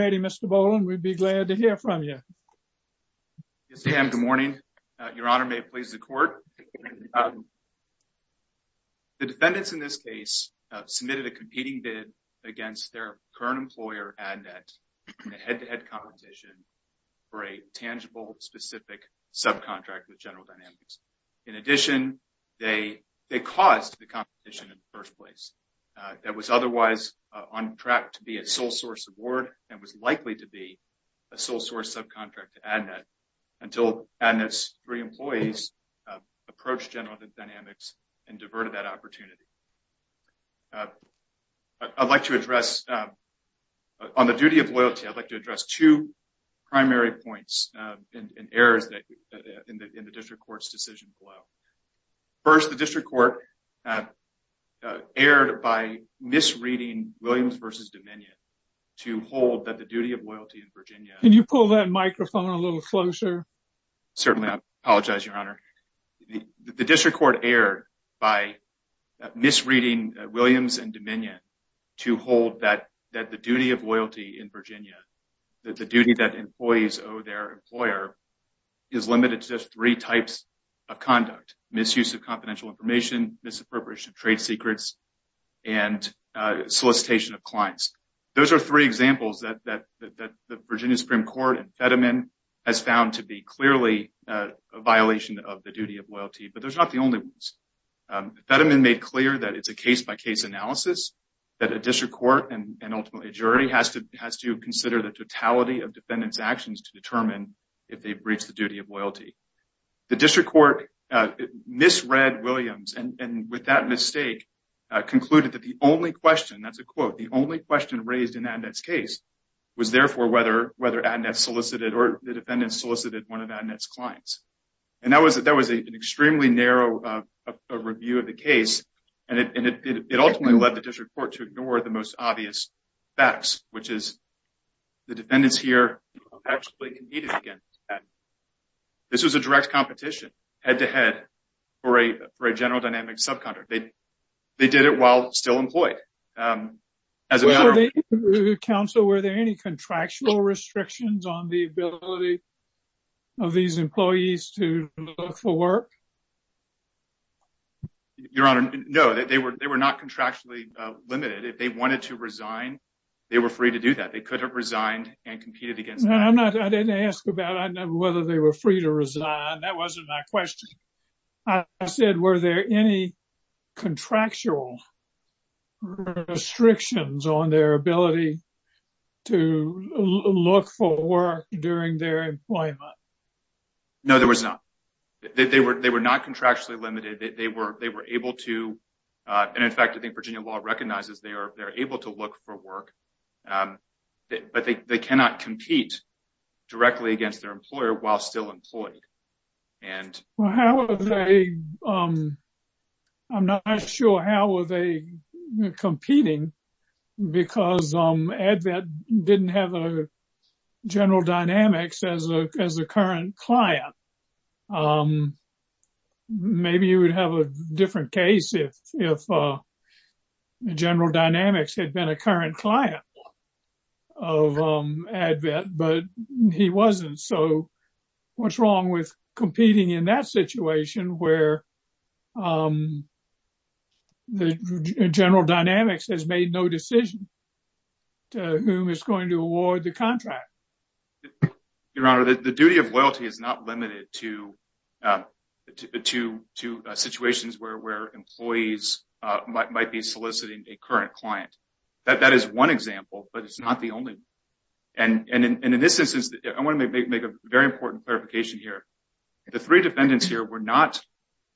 Mr. Boland, we'd be glad to hear from you. Yes, ma'am. Good morning. Your Honor, may it please the Court. The defendants in this case submitted a competing bid against their current employer, Adnet, in a head-to-head competition for a tangible, specific subcontract with General Dynamics. In addition, they caused the competition in the first place that was otherwise on track to be sole-source award and was likely to be a sole-source subcontract to Adnet until Adnet's three employees approached General Dynamics and diverted that opportunity. On the duty of loyalty, I'd like to address two primary points and errors in the District Court's decision. First, the District Court erred by misreading Williams v. Dominion to hold that the of loyalty in Virginia, that the duty that employees owe their employer, is limited to just three types of conduct, misuse of confidential information, misappropriation of trade secrets, and solicitation of clients. Those are three examples that the Virginia Supreme Court and Federman has found to be clearly a violation of the duty of loyalty, but they're not the only ones. Federman made clear that it's a case-by-case analysis that a District Court and ultimately has to consider the totality of defendants' actions to determine if they've breached the duty of loyalty. The District Court misread Williams and with that mistake concluded that the only question, that's a quote, the only question raised in Adnet's case was therefore whether Adnet solicited or the defendants solicited one of Adnet's clients. That was an extremely narrow review of the case and it ultimately led the District Court to ignore the obvious facts, which is the defendants here actually competed against Adnet. This was a direct competition head-to-head for a general dynamic subcontractor. They did it while still employed. Were there any contractual restrictions on the ability of these employees to look for work? Your Honor, no, they were not contractually limited. If they wanted to resign, they were free to do that. They could have resigned and competed against Adnet. I'm not, I didn't ask about whether they were free to resign. That wasn't my question. I said, were there any contractual restrictions on their ability to look for work during their employment? No, there was not. They were not contractually limited. They were able to, and in fact, I think Virginia law recognizes they are able to look for work, but they cannot compete directly against their employer while still employed. Well, how are they, I'm not sure how are they competing because Adnet didn't have a general dynamics as a current client. Maybe you would have a different case if general dynamics had been a current client of Adnet, but he wasn't. So what's wrong with competing in that situation where the general dynamics has made no decision to whom is going to award the contract? Your Honor, the duty of loyalty is not limited to situations where employees might be soliciting a current client. That is one example, but it's not the only one. And in this instance, I want to make a very important clarification here. The three defendants here,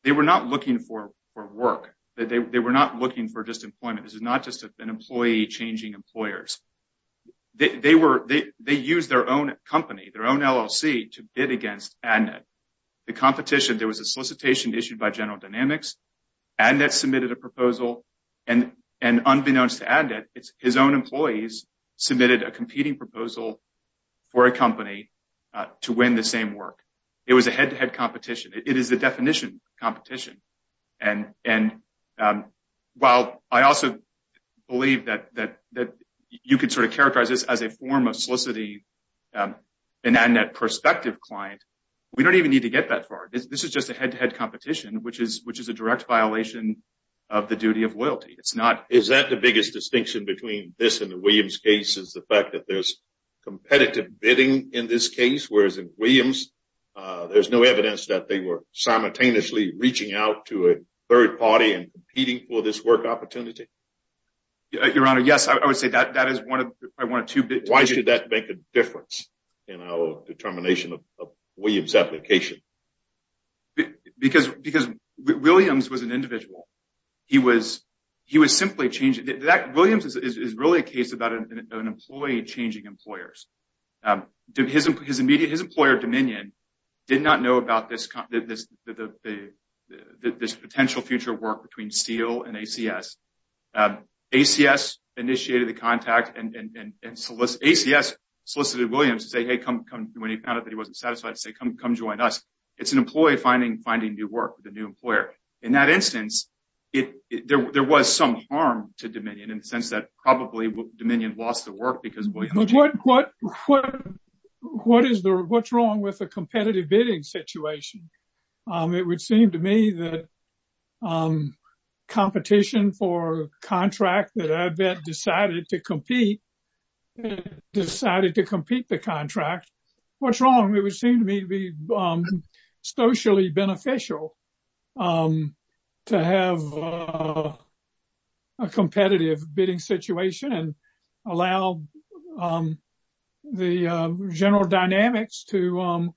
they were not looking for work. They were not looking for just employment. This is not just an employee changing employers. They used their own company, their own LLC to bid against Adnet. The competition, there was a solicitation issued by general dynamics. Adnet submitted a proposal and unbeknownst to Adnet, his own employees submitted a competing proposal for a company to win the same work. It was a head-to-head competition. It is the definition of competition. And while I also believe that you could sort of characterize this as a form of soliciting an Adnet prospective client, we don't even need to get that far. This is just a head-to-head competition, which is a direct violation of the duty of loyalty. Is that the biggest distinction between this and the Williams case is the fact that there's competitive bidding in this case, whereas in Williams, there's no evidence that they were simultaneously reaching out to a third party and competing for this work opportunity? Your Honor, yes, I would say that is one of the two. Why should that make a difference in our determination of Williams' application? Because Williams was an individual. He was simply changing—Williams is really a case about an employee changing employers. His employer, Dominion, did not know about this potential future work between Steele and ACS. ACS initiated the contact, and ACS solicited Williams to say, when he found out that he wasn't satisfied, to say, come join us. It's an employee finding new work with a new employer. In that instance, there was some harm to Dominion in the sense that probably Dominion lost the work because— What's wrong with a competitive bidding situation? It would seem to me that competition for a contract that I bet decided to compete the contract. What's wrong? It would be socially beneficial to have a competitive bidding situation and allow the general dynamics to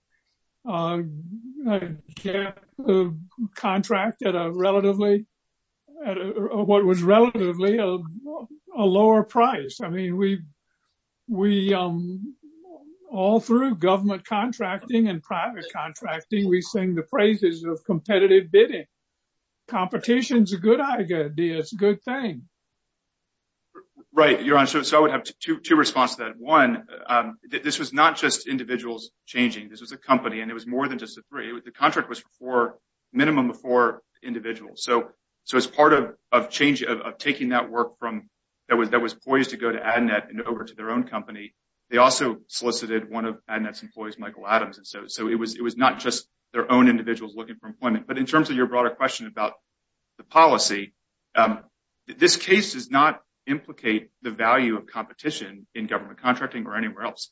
get the contract at what was relatively a lower price. All through government contracting and private contracting, we sing the phrases of competitive bidding. Competition is a good thing. Your Honor, I would have two responses to that. One, this was not just individuals changing. This was a company, and it was more than just the three. The contract was for a minimum of four individuals. As part of taking that work that was poised to go to AdNet and over to their own company, they also solicited one of AdNet's employees, Michael Adams. It was not just their own individuals looking for employment. In terms of your broader question about the policy, this case does not implicate the value of competition in government contracting or anywhere else.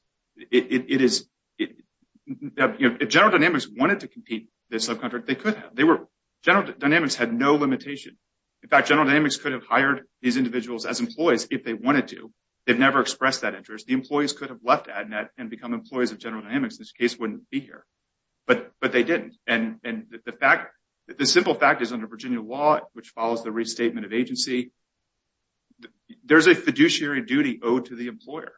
General Dynamics wanted to compete this subcontract. General Dynamics had no limitation. In fact, General Dynamics could have hired these individuals as employees if they wanted to. They've never expressed that interest. The employees could have left AdNet and become employees of General Dynamics. This case wouldn't be here, but they didn't. The simple fact is under Virginia law, which follows the restatement of agency, there is a fiduciary duty owed to the employer.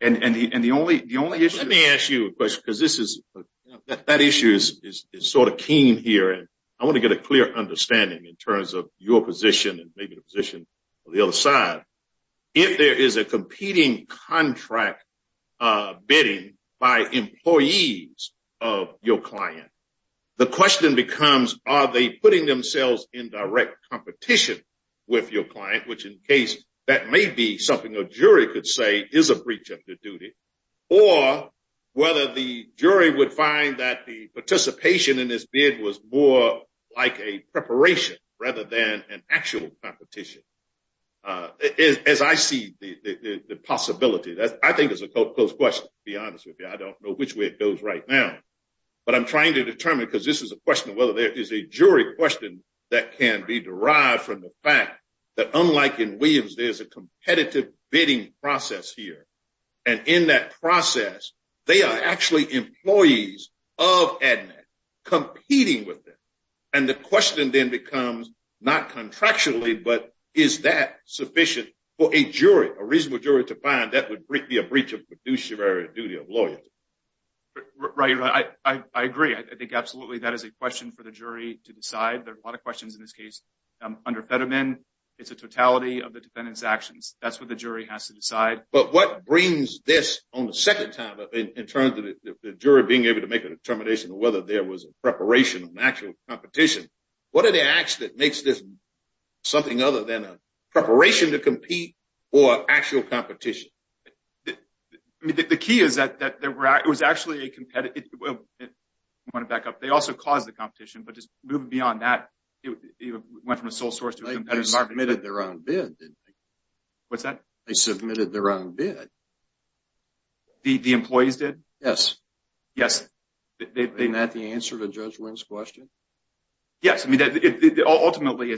Let me ask you a question. That issue is keen here. I want to get a clear understanding in terms of your position and maybe the position of the other side. If there is a competing contract bidding by employees of your client, the question becomes, are they putting themselves in direct competition with your client, which in case that may be something a jury could say is a breach of their duty, or whether the jury would find that the participation in this bid was more like a preparation rather than an actual competition. As I see the possibility, I think it's a close question, to be honest with you. I don't know which way it goes right now, but I'm trying to determine because this is a question of whether there is a jury question that can be derived from the fact that unlike in Williams, there's a competitive bidding process here. In that process, they are actually employees of ADMET competing with them. The question then becomes, not contractually, but is that sufficient for a jury, a reasonable jury to find that would be a breach of fiduciary duty of loyalty? Right. I agree. I think absolutely that is a question for the jury to decide. There are a lot of questions in this case. Under Fetterman, it's a totality of the defendant's actions. That's what the jury has to decide. But what brings this on the second time in terms of the jury being able to make a determination whether there was a preparation of an actual competition? What are the acts that makes this something other than a preparation to compete or actual competition? I mean, the key is that it was actually a competitive... I want to back up. They also caused the competition, but just moving beyond that, it went from a sole source to a competitive... They submitted their own bid, didn't they? What's that? They submitted their own bid. The employees did? Yes. Yes. Isn't that the answer to Judge Wynn's question? Yes. I mean, ultimately,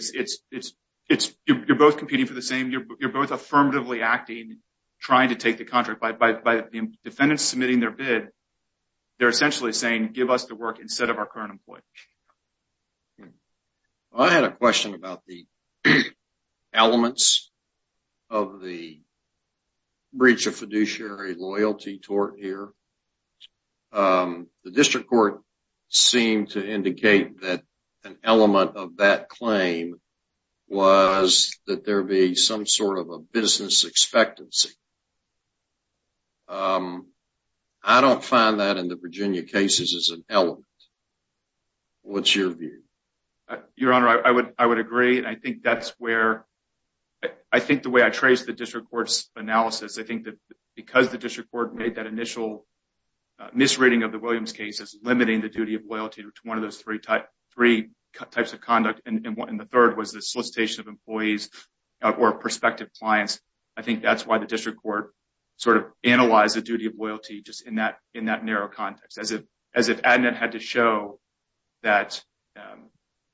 you're both competing for the same... You're both affirmatively acting, trying to take the contract. By the defendants submitting their bid, they're essentially saying, give us the work instead of our current employee. I had a question about the elements of the breach of fiduciary loyalty tort here. The district court seemed to indicate that an element of that claim was that there be some sort of a business expectancy. I don't find that in the Virginia cases as an element. What's your view? Your Honor, I would agree. I think that's where... I think the way I trace the district court's analysis, I think that because the district court made that initial misreading of the types of conduct, and the third was the solicitation of employees or prospective clients, I think that's why the district court sort of analyzed the duty of loyalty just in that narrow context, as if Adnet had to show that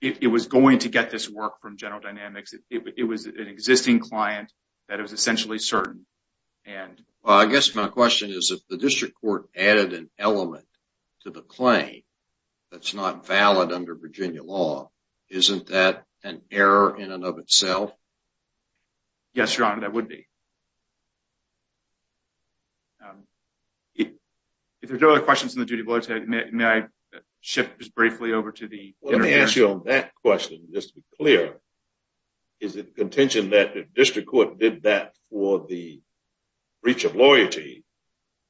it was going to get this work from General Dynamics. It was an existing client that was essentially certain. I guess my question is, if the district court added an element to the claim that's not valid under Virginia law, isn't that an error in and of itself? Yes, Your Honor, that would be. If there's no other questions on the duty of loyalty, may I shift just briefly over to the... Let me ask you on that question, just to be clear. Is it the contention that the district court did that for the breach of loyalty,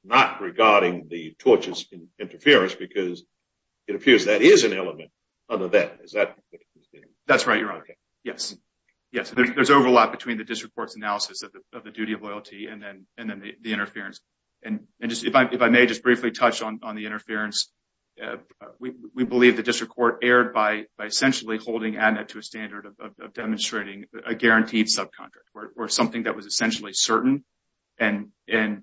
not regarding the tortious interference? Because it appears that is an element under that. Is that... That's right, Your Honor. Yes. There's overlap between the district court's analysis of the duty of loyalty and then the interference. If I may just briefly touch on the interference, we believe the district court erred by essentially holding Adnet to a standard of demonstrating a guaranteed subcontract, or something that was essentially certain. The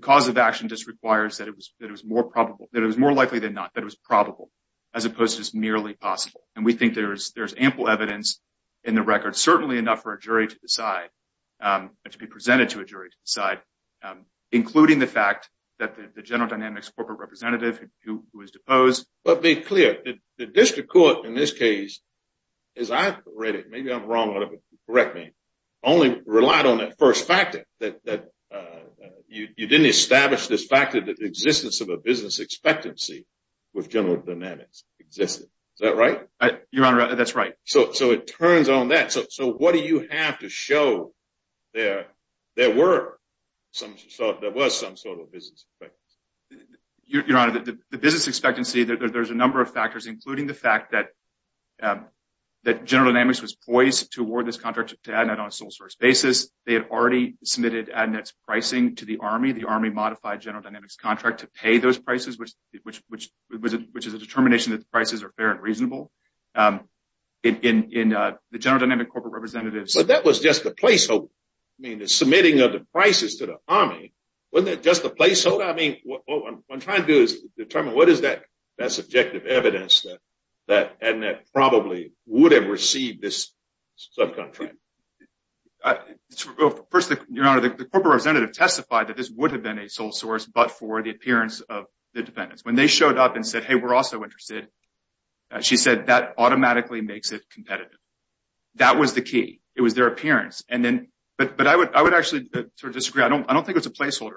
cause of action just requires that it was more likely than not that it was probable, as opposed to just merely possible. And we think there's ample evidence in the record, certainly enough for a jury to decide, to be presented to a jury to decide, including the fact that the general dynamics corporate representative who was deposed... But be clear, the district court in this case, as I've read it, maybe I'm wrong, but correct me, only relied on that first factor, that you didn't establish this factor that the existence of a business expectancy with General Dynamics existed. Is that right? Your Honor, that's right. So it turns on that. So what do you have to show there were some sort... There was some sort of business expectancy? Your Honor, the business expectancy, there's a number of factors, including the fact that General Dynamics was poised to award this contract to Adnet on a sole source basis. They had already submitted Adnet's pricing to the Army. The Army modified General Dynamics contract to pay those prices, which is a determination that the prices are fair and reasonable. In the General Dynamics corporate representative... But that was just the placeholder. I mean, the submitting of the prices to the Army, wasn't that just the placeholder? I mean, what I'm trying to do is determine what is that subjective evidence that Adnet probably would have received this subcontract. First, Your Honor, the corporate representative testified that this would have but for the appearance of the dependents. When they showed up and said, hey, we're also interested, she said that automatically makes it competitive. That was the key. It was their appearance. And then... But I would actually sort of disagree. I don't think it's a placeholder.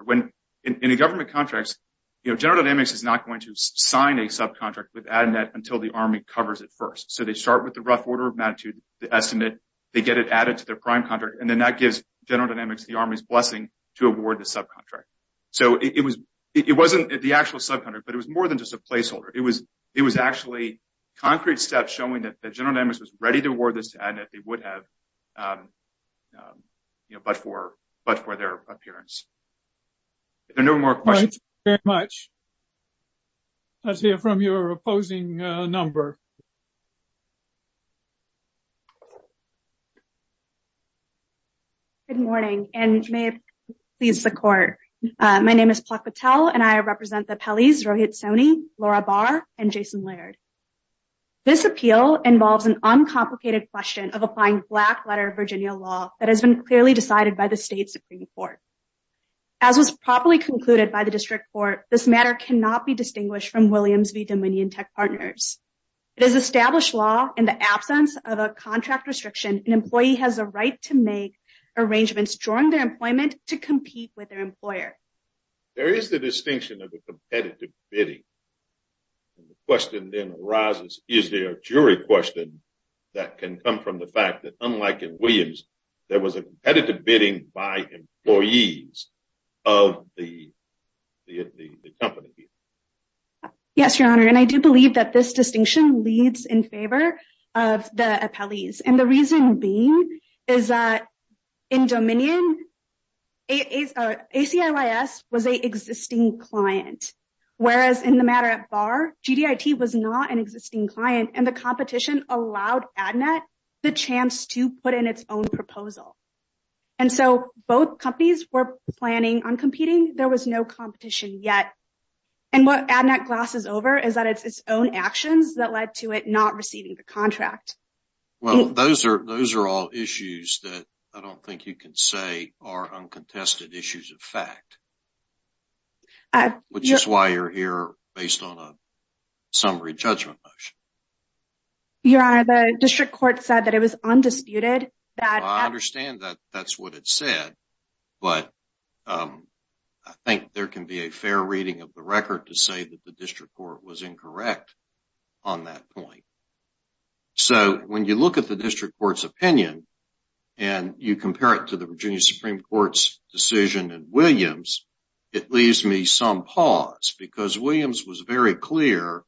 In the government contracts, General Dynamics is not going to sign a subcontract with Adnet until the Army covers it first. So they start with the rough order of magnitude, the estimate, they get it added to their prime contract, and then that gives General Dynamics the Army's blessing to award the subcontract. So it wasn't the actual subcontract, but it was more than just a placeholder. It was actually concrete steps showing that General Dynamics was ready to award this to Adnet, they would have, but for their appearance. If there are no more questions... Thank you very much. Let's hear from your opposing number. Good morning, and may it please the court. My name is Plak Patel, and I represent the Pelley's, Rohit Soni, Laura Barr, and Jason Laird. This appeal involves an uncomplicated question of a fine black letter of Virginia law that has been clearly decided by the state Supreme Court. As was properly concluded by the district court, this matter cannot be distinguished from Williams v. Dominion Tech Partners. The Supreme Court has decided that this matter should not be established law in the absence of a contract restriction. An employee has a right to make arrangements during their employment to compete with their employer. There is the distinction of a competitive bidding. The question then arises, is there a jury question that can come from the fact that, unlike in Williams, there was a competitive bidding by employees of the company? Yes, Your Honor, and I do believe that this leads in favor of the appellees, and the reason being is that in Dominion, ACLIS was an existing client, whereas in the matter at Barr, GDIT was not an existing client, and the competition allowed ADNET the chance to put in its own proposal. And so both companies were planning on competing. There was no competition yet, and what ADNET glosses over is that it's its own actions that led to it not receiving the contract. Well, those are all issues that I don't think you can say are uncontested issues of fact, which is why you're here based on a summary judgment motion. Your Honor, the district court said that it was undisputed. I understand that that's what it said, but I think there can be a fair reading of the record to say that the district court was incorrect on that point. So when you look at the district court's opinion, and you compare it to the Virginia Supreme Court's decision in Williams, it leaves me some pause, because Williams was very clear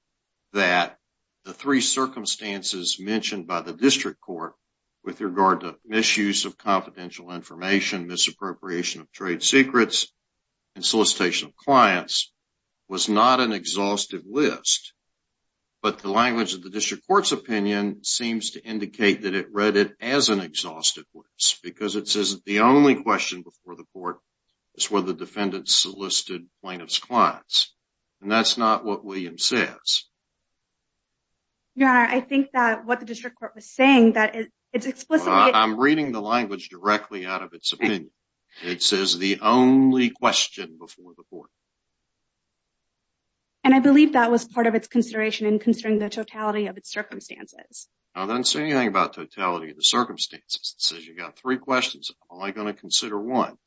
that the three circumstances mentioned by the district court with regard to misuse of confidential information, misappropriation of trade secrets, and solicitation of clients was not an exhaustive list. But the language of the district court's opinion seems to indicate that it read it as an exhaustive list, because it says the only question before the court is whether defendants solicited plaintiff's clients. And that's not what Williams says. Your Honor, I think that what the district court was saying that it's explicitly... I'm reading the language directly out of its opinion. It says the only question before the court. And I believe that was part of its consideration in considering the totality of its circumstances. It doesn't say anything about totality of the circumstances. It says you got three questions. I'm only going to consider one.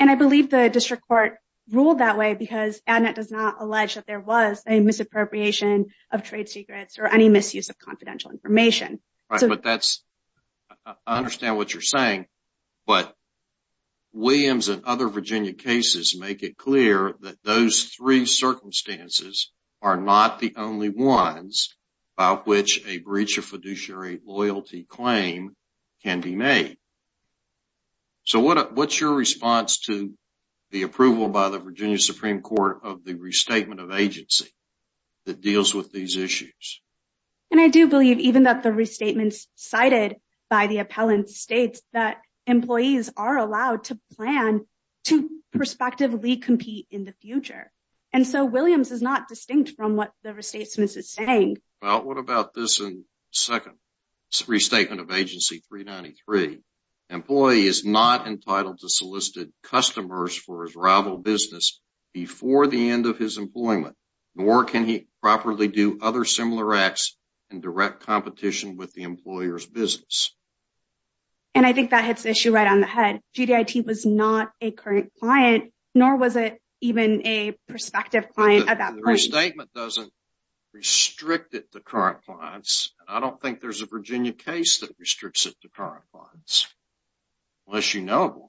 And I believe the district court ruled that way, because ADNET does not allege that there was a misappropriation of trade secrets or any misuse of confidential information. Right, but that's... I understand what you're saying. But Williams and other Virginia cases make it clear that those three circumstances are not the only ones about which a breach of Virginia Supreme Court of the restatement of agency that deals with these issues. And I do believe even that the restatements cited by the appellant states that employees are allowed to plan to prospectively compete in the future. And so Williams is not distinct from what the restatement is saying. Well, what about this second restatement of agency 393? Employee is not entitled to solicit customers for his rival business before the end of his employment, nor can he properly do other similar acts in direct competition with the employer's business. And I think that hits the issue right on the head. GDIT was not a current client, nor was it even a prospective client at that point. The restatement doesn't restrict it to current clients, and I don't think there's a Virginia case that restricts it to current clients, unless you know of one.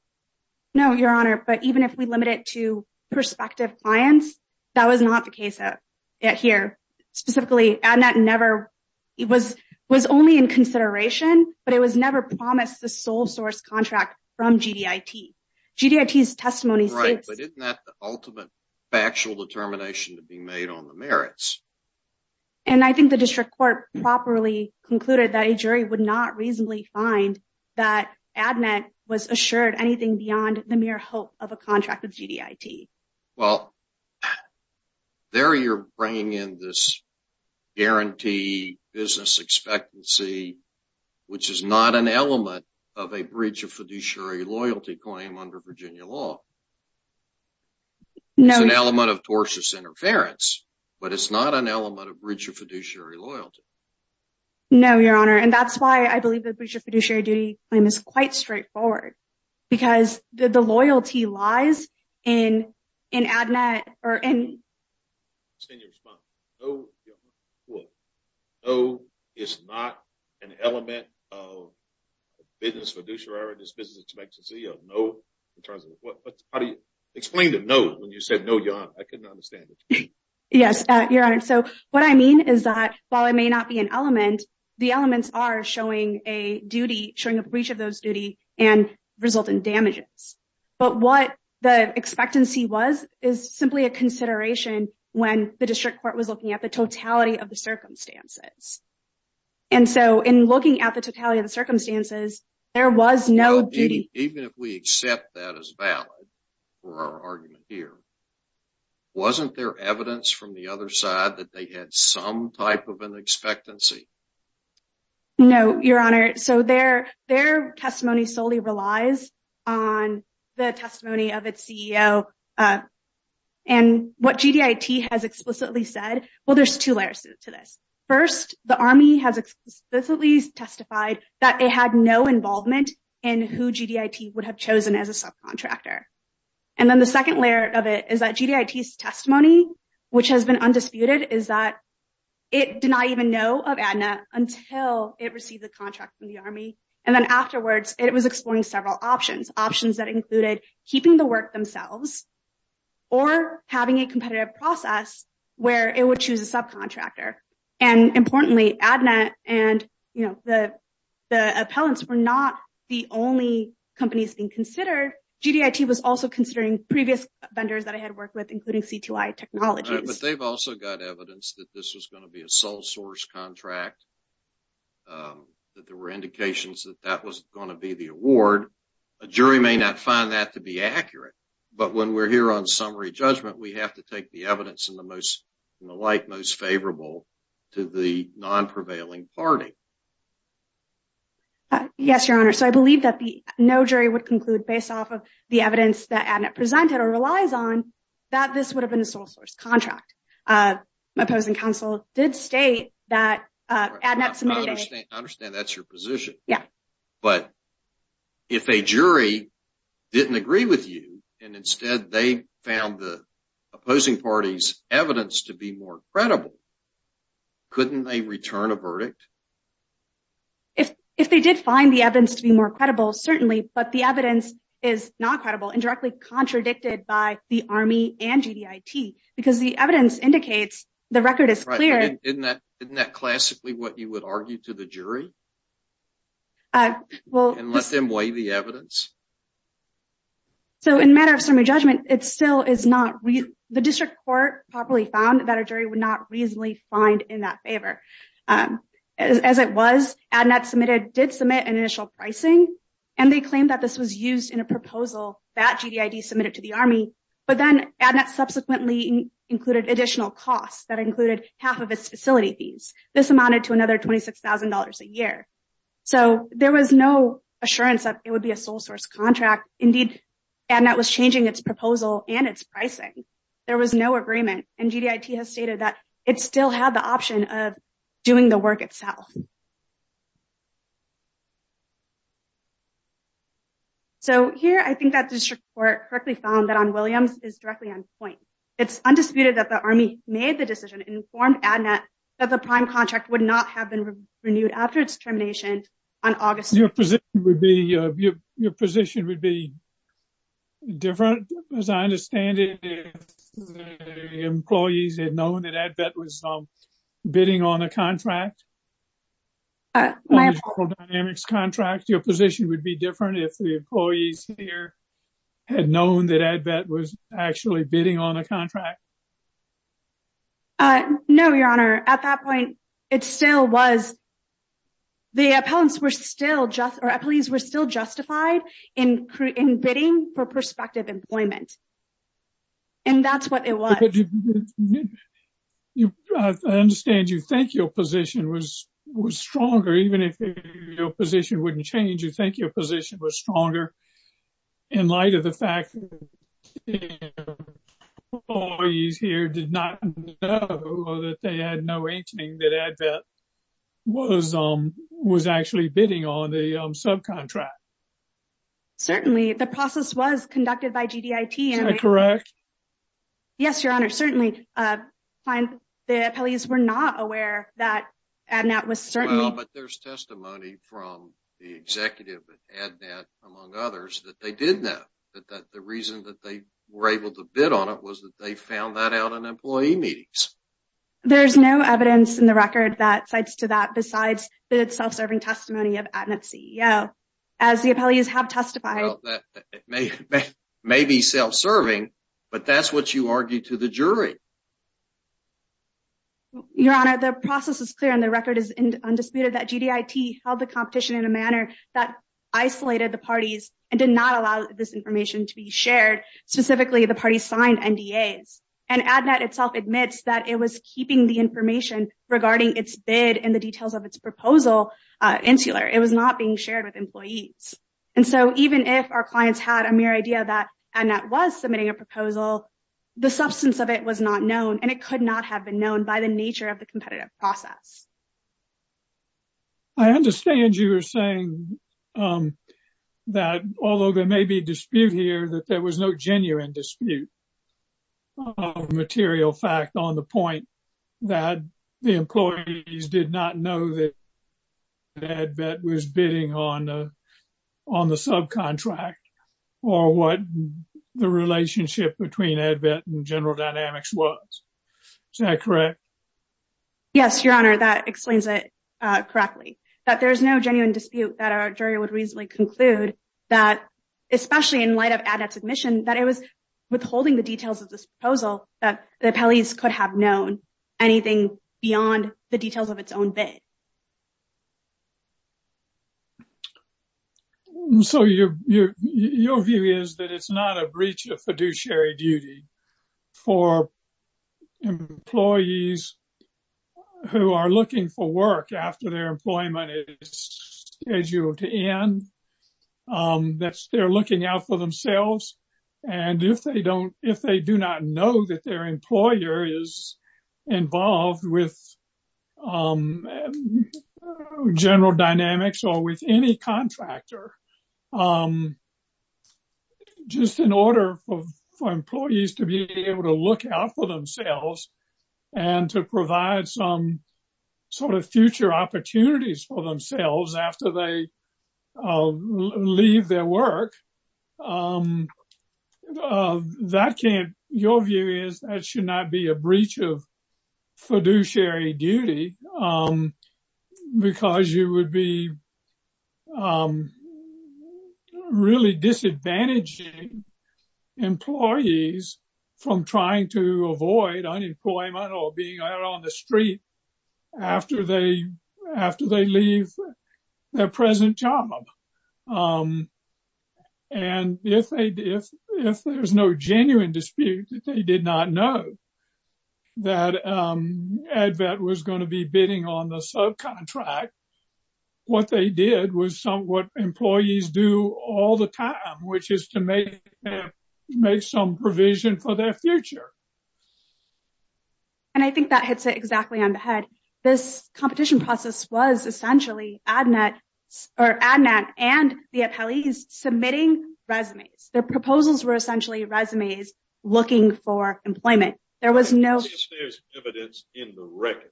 No, Your Honor, but even if we limit it to prospective clients, that was not the case here. Specifically, it was only in consideration, but it was never promised the sole source contract from GDIT. GDIT's testimony states... Right, but isn't that the ultimate factual determination to be made on the merits? And I think the district court properly concluded that a jury would not reasonably find that ADNET was assured anything beyond the mere hope of a contract with GDIT. Well, there you're bringing in this guarantee business expectancy, which is not an element of a breach of fiduciary loyalty claim under Virginia law. No. It's an element of tortious interference, but it's not an element of breach of fiduciary loyalty. No, Your Honor, and that's why I believe the breach of fiduciary duty claim is quite straightforward, because the loyalty lies in ADNET or in... Let's see your response. No, Your Honor, what? No, it's not an element of a business fiduciary business expectancy of no in terms of... Explain the no when you said no, Your Honor. I couldn't understand it. Yes, Your Honor. So what I mean is that while it may not be an element, the elements are showing a duty, showing a breach of those duty and result in damages. But what the expectancy was is simply a consideration when the district court was looking at the totality of the circumstances. And so in looking at the circumstances, there was no duty. Even if we accept that as valid for our argument here, wasn't there evidence from the other side that they had some type of an expectancy? No, Your Honor. So their testimony solely relies on the testimony of its CEO. And what GDIT has explicitly said, well, there's two layers to this. First, the Army has explicitly testified that they had no involvement in who GDIT would have chosen as a subcontractor. And then the second layer of it is that GDIT's testimony, which has been undisputed, is that it did not even know of ADNET until it received the contract from the Army. And then afterwards, it was exploring several options, options that included keeping the work themselves or having a competitive process where it would choose a subcontractor. And importantly, ADNET and the appellants were not the only companies being considered. GDIT was also considering previous vendors that it had worked with, including CTY Technologies. But they've also got evidence that this was going to be a sole source contract, that there were indications that that was going to be the award. A jury may not find that to be accurate. But when we're here on summary judgment, we have to take the evidence and the like most favorable to the non-prevailing party. Yes, Your Honor. So I believe that the no jury would conclude based off of the evidence that ADNET presented or relies on that this would have been a sole source contract. My opposing counsel did state that ADNET submitted a... I understand that's your position. Yeah. But if a jury didn't agree with you and instead they found the opposing party's evidence to be more credible, couldn't they return a verdict? If they did find the evidence to be more credible, certainly. But the evidence is not credible and directly contradicted by the Army and GDIT because the evidence indicates the record is clear. Isn't that classically what you would argue to the jury? And let them weigh the evidence? So in a matter of summary judgment, it still is not... The district court properly found that a jury would not reasonably find in that favor. As it was, ADNET did submit an initial pricing and they claimed that this was used in a proposal that GDIT submitted to the Army. But then ADNET subsequently included additional costs that included half of its facility fees. This amounted to another $26,000 a year. So there was no assurance that it would be a sole source contract. Indeed, ADNET was changing its proposal and its pricing. There was no agreement and GDIT has stated that it still had the option of doing the work itself. So here, I think that district court correctly found that on Williams is directly on point. It's undisputed that the Army made the decision, informed ADNET, that the prime contract would not have been renewed after its termination on August... Your position would be different as I understand it. Employees had known that ADVET was bidding on a contract. Your position would be different if the employees here had known that ADVET was actually bidding on a contract. No, Your Honor. At that point, it still was... The appellants were still just... Our employees were still justified in bidding for prospective employment. And that's what it was. You... I understand you think your position was stronger. Even if your position wouldn't change, you think your position was stronger in light of the fact that the employees here did not know that they had no inkling that ADVET was actually bidding on the subcontract. Certainly, the process was conducted by GDIT. Is that correct? Yes, Your Honor. Certainly, the appellants were not aware that ADNET was certainly... But there's testimony from the executive at ADNET, among others, that they did know that the reason that they were able to bid on it was that they found that out in employee meetings. There's no evidence in the record that cites to that besides the self-serving testimony of ADNET CEO. As the appellees have testified... Well, that may be self-serving, but that's what you argued to the jury. Your Honor, the process is clear and the record is undisputed that GDIT held the competition in a manner that isolated the parties and did not allow this information to be shared. Specifically, the parties signed NDAs. And ADNET itself admits that it was keeping the information regarding its bid and the details of its proposal insular. It was not being shared with employees. And so, even if our clients had a mere idea that ADNET was submitting a proposal, the substance of it was not known and it could not have been known by the nature of the competitive process. I understand you are saying that although there may be dispute here, that there was no genuine dispute of material fact on the point that the employees did not know that ADVET was bidding on the subcontract or what the relationship between ADVET and General Dynamics was. Is that correct? Yes, Your Honor, that explains it correctly. That there is no genuine dispute that our jury would reasonably conclude that, especially in light of ADNET's admission that it was withholding the details of this proposal that the appellees could have known anything beyond the details of its own bid. So, your view is that it's not a breach of fiduciary duty for employees who are looking for work after their employment is scheduled to end. They're looking out for themselves. And if they do not know that their employer is involved with General Dynamics or with any contractor, just in order for employees to be able to look out for themselves and to provide some sort of future opportunities for themselves after they leave their work, your view is that should not be a breach of fiduciary duty because you would be really disadvantaging employees from trying to avoid unemployment or being out on the street after they leave their present job. And if there's no genuine dispute that they did not know that ADVET was going to be bidding on the subcontract, what they did was what employees do all the time, which is to make some provision for their future. And I think that hits it exactly on the head. This competition process was essentially ADNET and the appellees submitting resumes. Their proposals were essentially resumes looking for employment. There was no evidence in the record.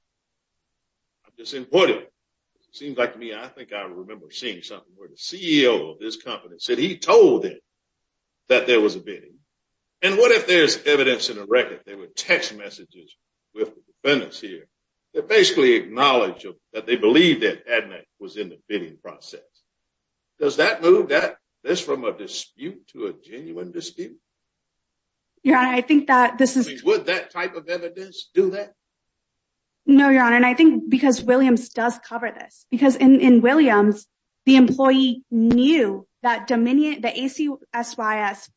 I'm disappointed. It seems like to me, I think I remember seeing something where the CEO of this company said he told them that there was a bidding. And what if there's evidence in the record? There were text messages with the defendants here that basically acknowledge that they believe that ADVET was in the bidding process. Does that move this from a dispute to a genuine dispute? Your Honor, I think that this is... Would that type of evidence do that? No, Your Honor. And I think because Williams does cover this. Because in Williams, the employee knew that Dominion, the ACSYS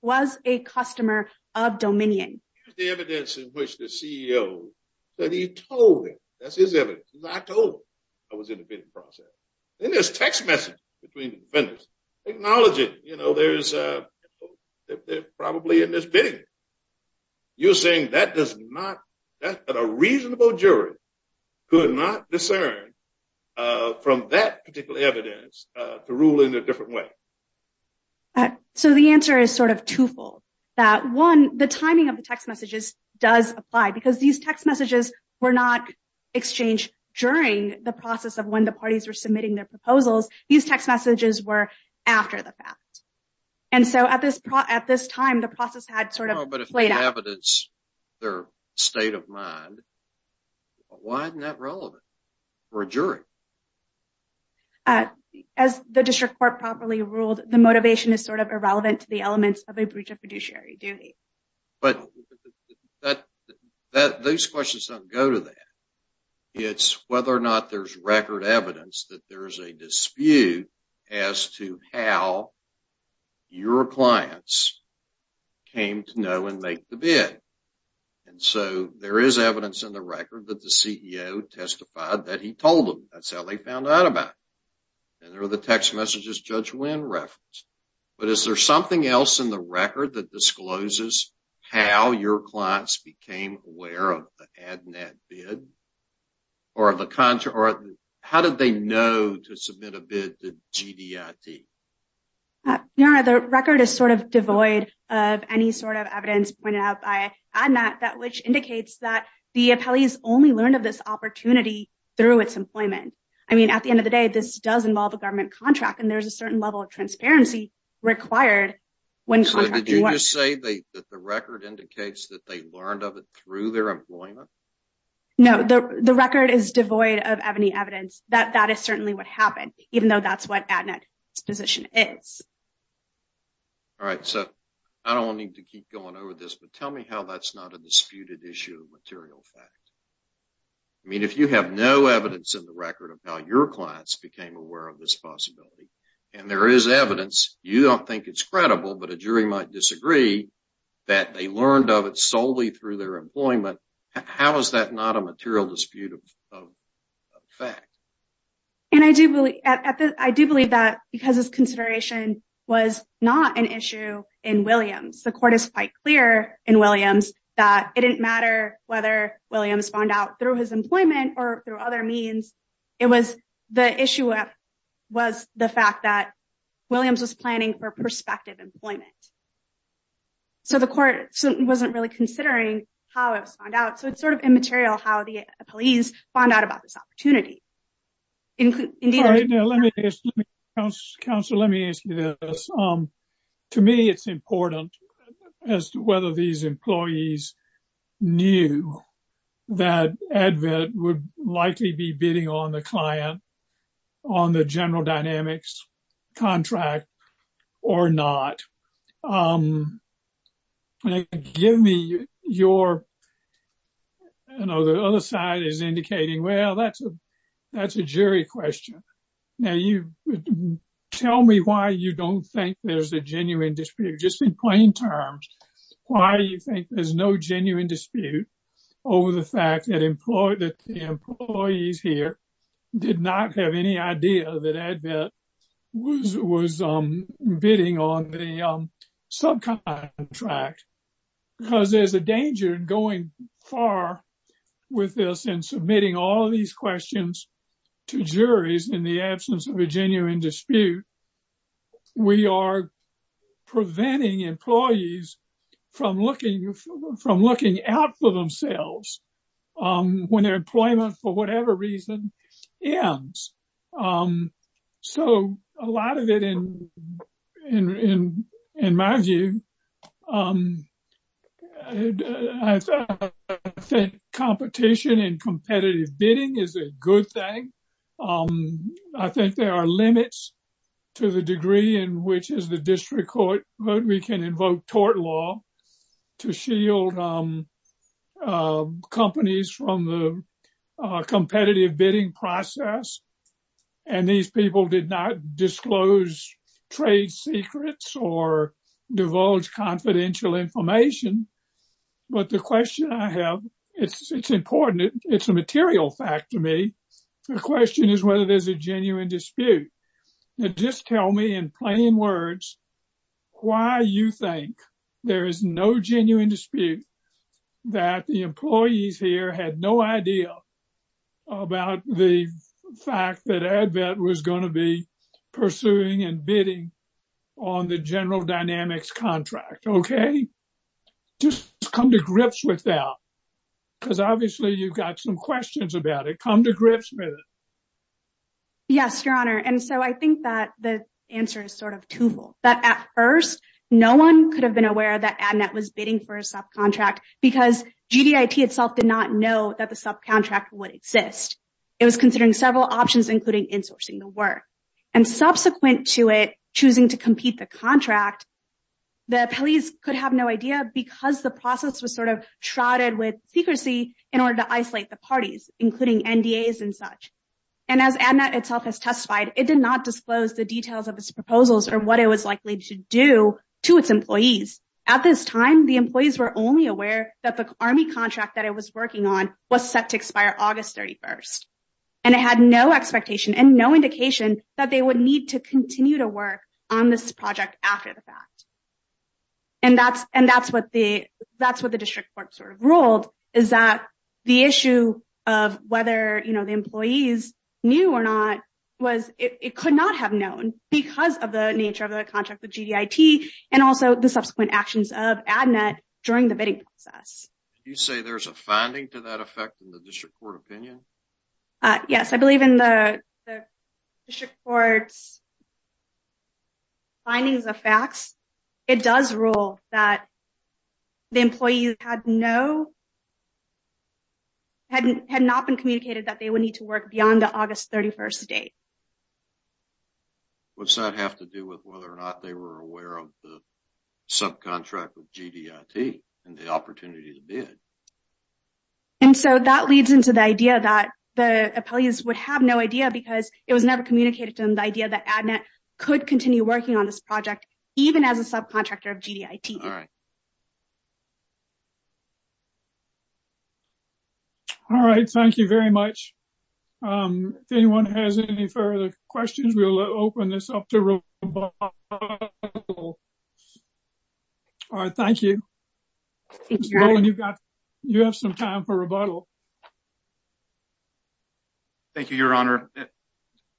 was a customer of Dominion. Here's the evidence in which the CEO that he told him, that's his evidence. He said, I told him I was in the bidding process. Then there's text messages between the defendants acknowledging, you know, there's probably in this bidding. You're saying that does not... That a reasonable jury could not discern from that particular evidence to rule in a different way? So the answer is sort of twofold. That one, the timing of the text messages does apply because these text messages were not exchanged during the process of when the parties were submitting their proposals. These text messages were after the fact. And so at this time, the process had played out. But if the evidence, their state of mind, why isn't that relevant for a jury? As the district court properly ruled, the motivation is sort of irrelevant to the elements of a breach of fiduciary duty. But those questions don't go to that. It's whether or not there's record evidence that there is a dispute as to how your clients came to know and make the bid. And so there is evidence in the record that the CEO testified that he told them. That's how they found out about it. And there were the text messages Judge Wynn referenced. But is there something else in the record that discloses how your clients became aware of the ADNAT bid? Or how did they know to submit a bid to GDIT? No, the record is sort of devoid of any sort of evidence pointed out by ADNAT, that which indicates that the appellees only learned of this opportunity through its employment. I mean, at the end of the day, this does involve a government contract, and there's a certain level of transparency required. So did you just say that the record indicates that they learned of it through their employment? No, the record is devoid of any evidence that that is certainly what happened, even though that's what ADNAT's position is. All right, so I don't need to keep going over this, but tell me how that's not a disputed issue of material fact. I mean, if you have no evidence in the record of how your clients became aware of this possibility, and there is evidence, you don't think it's credible, but a jury might disagree that they learned of it solely through their employment. How is that not a material dispute of fact? And I do believe that because this consideration was not an issue in Williams, the court is quite clear in Williams that it didn't matter whether Williams found out through his employment or through other means. It was the issue was the fact that Williams was planning for prospective employment. So the court wasn't really considering how it was found out. So it's sort of immaterial how the police found out about this opportunity. Counselor, let me ask you this. To me, it's important as to whether these employees knew that ADVET would likely be bidding on the client on the general dynamics contract or not. And give me your, you know, the other side is indicating, well, that's a jury question. Now you tell me why you don't think there's a genuine dispute, just in plain terms. Why do you think there's no genuine dispute over the fact that the employees here did not have any idea that ADVET was bidding on the subcontract? Because there's a danger in going far with this and submitting all these questions to juries in the absence of a genuine dispute. We are preventing employees from looking from looking out for themselves when their employment, for whatever reason, ends. So a lot of it, in my view, competition and competitive bidding is a good thing. I think there are limits to the degree in which as the district court, we can invoke tort law to shield companies from the competitive bidding process. And these people did not disclose trade secrets or divulge confidential information. But the question I have, it's important, it's a material fact to me. The question is whether there's a genuine dispute. Now just tell me in plain words, why you think there is no genuine dispute that the employees here had no idea about the fact that ADVET was going to be pursuing and bidding on the General Dynamics contract, okay? Just come to grips with that because obviously you've got some questions about it. Come to grips with it. Yes, Your Honor. And so I think that the answer is sort of twofold. That at first, no one could have been aware that ADVET was bidding for a subcontract because GDIT itself did not know that the subcontract would exist. It was considering several options, including insourcing the work. And subsequent to it choosing to compete the contract, the police could have no idea because the process was sort of shrouded with secrecy in order to the parties, including NDAs and such. And as ADMET itself has testified, it did not disclose the details of its proposals or what it was likely to do to its employees. At this time, the employees were only aware that the Army contract that it was working on was set to expire August 31st. And it had no expectation and no indication that they would need to continue to work on this project after the fact. And that's what the district court sort of ruled, is that the issue of whether, you know, the employees knew or not, was it could not have known because of the nature of the contract with GDIT and also the subsequent actions of ADMET during the bidding process. You say there's a finding to that effect in the district court opinion? Yes, I believe in the district court's findings of facts, it does rule that the employee had no, had not been communicated that they would need to work beyond the August 31st date. What's that have to do with whether or not they were aware of the subcontract with GDIT and the opportunity to bid? And so that leads into the idea that the employees would have no idea because it was never communicated to them the idea that ADMET could continue working on this project, even as a subcontractor of GDIT. All right, thank you very much. If anyone has any further questions, we'll open this up to rebuttal. All right, thank you. You have some time for rebuttal. Thank you, Your Honor.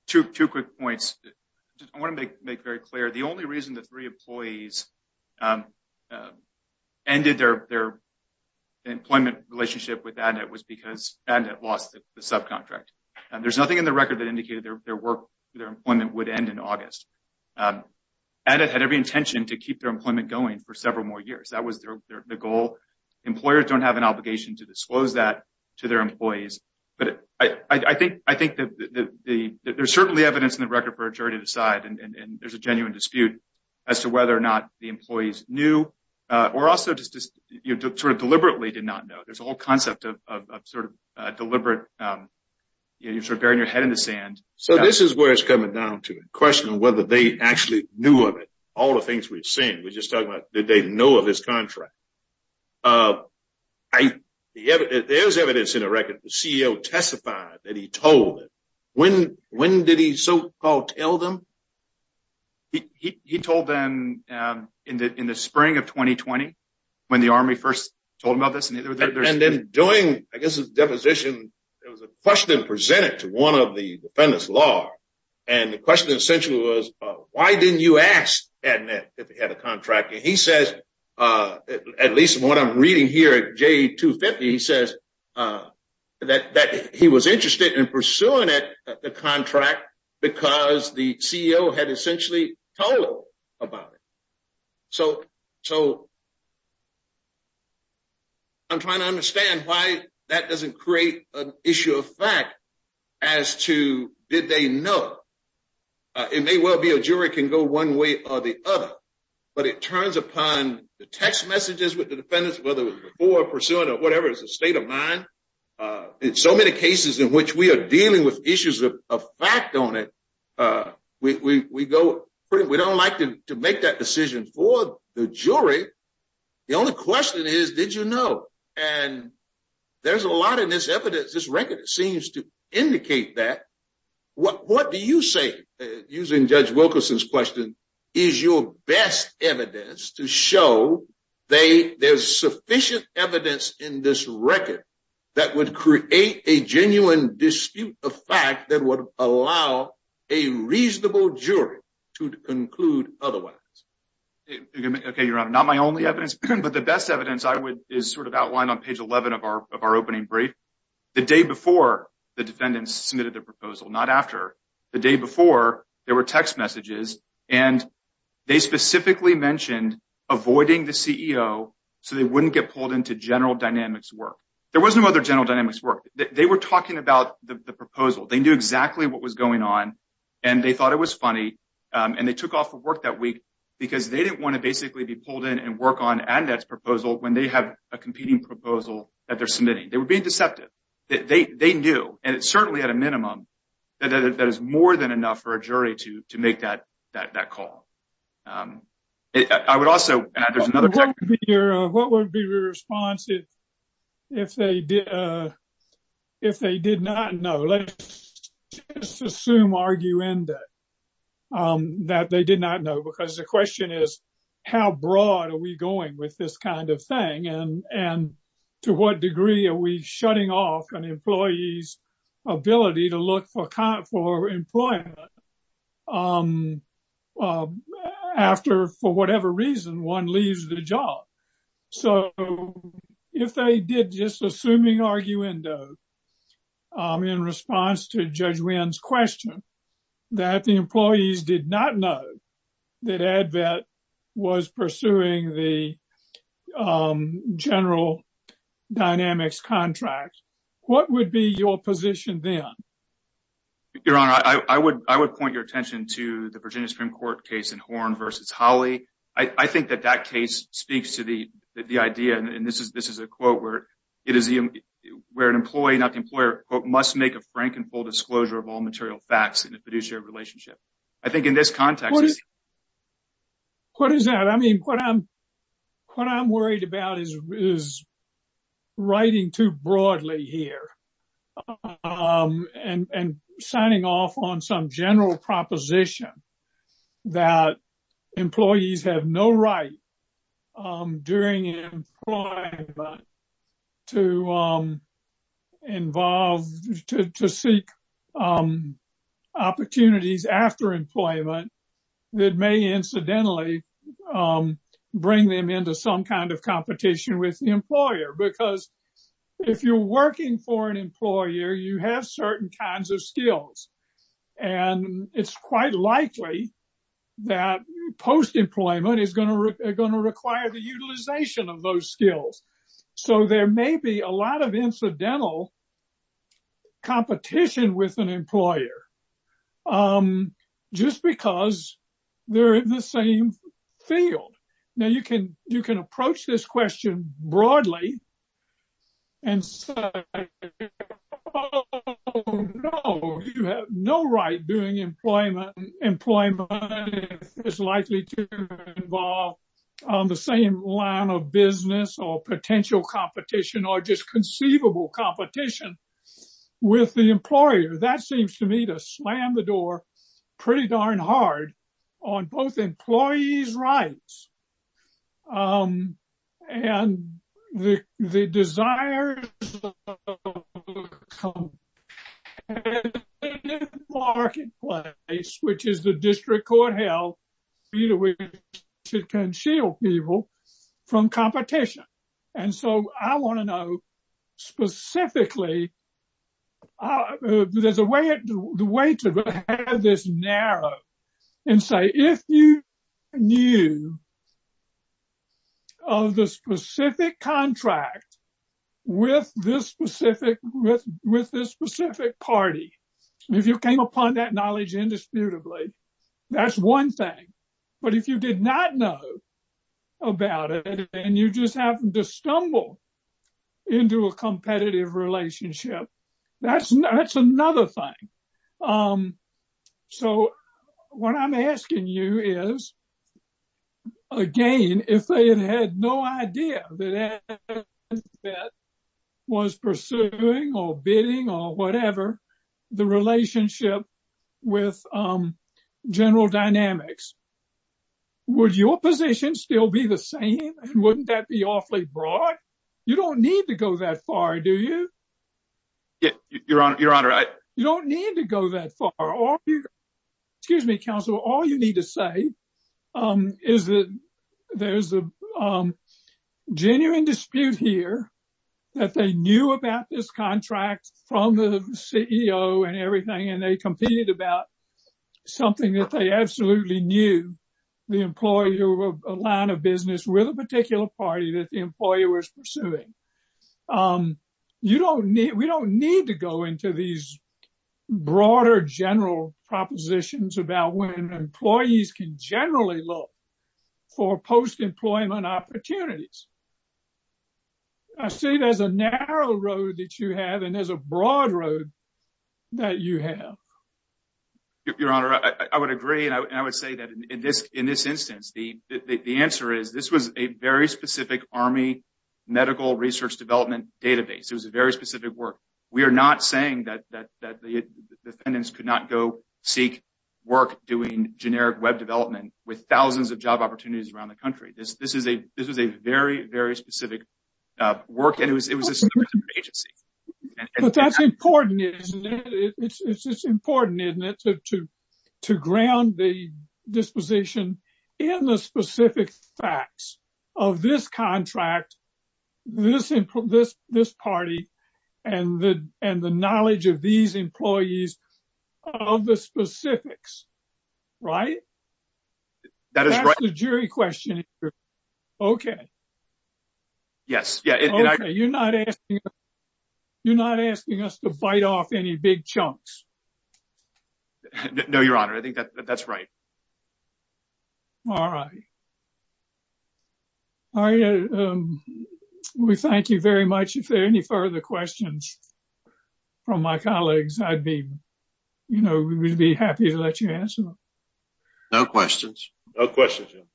Two quick points. I want to make very clear, the only reason the three employees ended their employment relationship with ADMET was because ADMET lost the subcontract. There's nothing in the record that indicated their work, their employment would end in August. ADMET had every intention to keep their employment going for several more years. That was their goal. Employers don't have an obligation to disclose that to their employees. But I think there's certainly evidence in the record for a jury to decide, and there's a genuine dispute as to whether or not the employees knew, or also just sort of deliberately did not know. There's a whole concept of sort of deliberate, you're sort of burying your head in the sand. So this is where it's coming down to a question of whether they actually knew of it. All the evidence, there's evidence in the record that the CEO testified that he told them. When did he so-called tell them? He told them in the spring of 2020, when the Army first told him about this. And then during, I guess, his deposition, there was a question presented to one of the defendants law. And the question essentially was, why didn't you ask ADMET if he had a contract? And he says, at least what I'm reading here at J250, he says that he was interested in pursuing the contract because the CEO had essentially told him about it. So I'm trying to understand why that doesn't create an issue of fact as to, did they know? It may well be a jury can go one way or the other, but it turns upon the text messages with the defendants, whether it was before pursuing or whatever, it's a state of mind. In so many cases in which we are dealing with issues of fact on it, we don't like to make that decision for the jury. The only question is, did you know? And there's a lot in this evidence, this record, it seems to indicate that. What do you say, using Judge Wilkerson's question, is your best evidence to show there's sufficient evidence in this record that would create a genuine dispute of fact that would allow a reasonable jury to conclude otherwise? Okay, Your Honor, not my only evidence, but the best evidence I would, is sort of outlined on of our opening brief. The day before the defendants submitted the proposal, not after, the day before there were text messages and they specifically mentioned avoiding the CEO so they wouldn't get pulled into General Dynamics work. There was no other General Dynamics work. They were talking about the proposal. They knew exactly what was going on and they thought it was funny. And they took off for work that week because they didn't want to basically be pulled in and work on AdNet's proposal when they have a competing proposal that they're submitting. They were being deceptive. They knew, and certainly at a minimum, that is more than enough for a jury to make that call. I would also, there's another- What would be your response if they did not know? Let's just assume arguendo that they did not know because the question is, how broad are we going with this kind of thing? And to what degree are we shutting off an employee's ability to look for employment after, for whatever reason, one leaves the job? So if they did just assuming arguendo in response to Judge Wynn's question that the employees did not know that AdNet was pursuing the General Dynamics contract, what would be your position then? Your Honor, I would point your attention to the Virginia Supreme Court case in Horn versus Hawley. I think that that case speaks to the idea, and this is a quote, where an employee, not the employer, quote, must make a frank and full disclosure of all material facts in a fiduciary relationship. I think in this context- What is that? I mean, what I'm worried about is is writing too broadly here and signing off on some general proposition that employees have no right during employment to involve, to seek opportunities after employment that may incidentally bring them into some kind of competition with the employer. Because if you're working for an employer, you have certain kinds of skills. And it's quite likely that post-employment is going to require the utilization of those skills. So there may be a lot of incidental competition with an employer just because they're in the same field. Now, you can approach this question broadly and say, oh, no, you have no right during employment if it's likely to involve the same line of business or potential competition or just conceivable competition with the employer. That seems to me to slam the door pretty darn hard on both employees' rights and the desires of the workplace, which is the district court held either way to conceal people from competition. And so I want to know specifically there's a way to have this narrow and say, if you knew of the specific contract with this specific party, if you came upon that knowledge indisputably, that's one thing. But if you did not know about it and you just happened to stumble into a competitive relationship, that's another thing. So what I'm asking you is, again, if they had had no idea that was pursuing or bidding or whatever the relationship with general dynamics, would your position still be the same? And wouldn't that be awfully broad? You don't need to go that far, do you? You don't need to go that far. Excuse me, counsel. All you need to say is that there's a genuine dispute here that they knew about this contract from the CEO and everything, and they competed about something that they absolutely knew, the employer, a line of business with a particular party that the employer was pursuing. We don't need to go into these broader general propositions about when employees can generally look for post-employment opportunities. I see there's a narrow road that you have and there's a broad road that you have. Your Honor, I would agree. I would say that in this instance, the answer is this was a very specific Army medical research development database. It was a very specific work. We are not saying that the defendants could not go seek work doing generic web development with thousands of job opportunities around the country. This was a very, very specific work and it was a significant agency. But that's important, isn't it? It's important, isn't it, to ground the disposition in the specific facts of this contract, this party, and the knowledge of these employees of the specifics, right? That's the jury question. Okay. Yes. You're not asking us to bite off any big chunks. No, Your Honor. I think that's right. All right. We thank you very much. If there are any further questions from my colleagues, I'd be happy to let you answer them. No questions. No questions, Your Honor.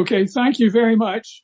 Okay. Thank you very much.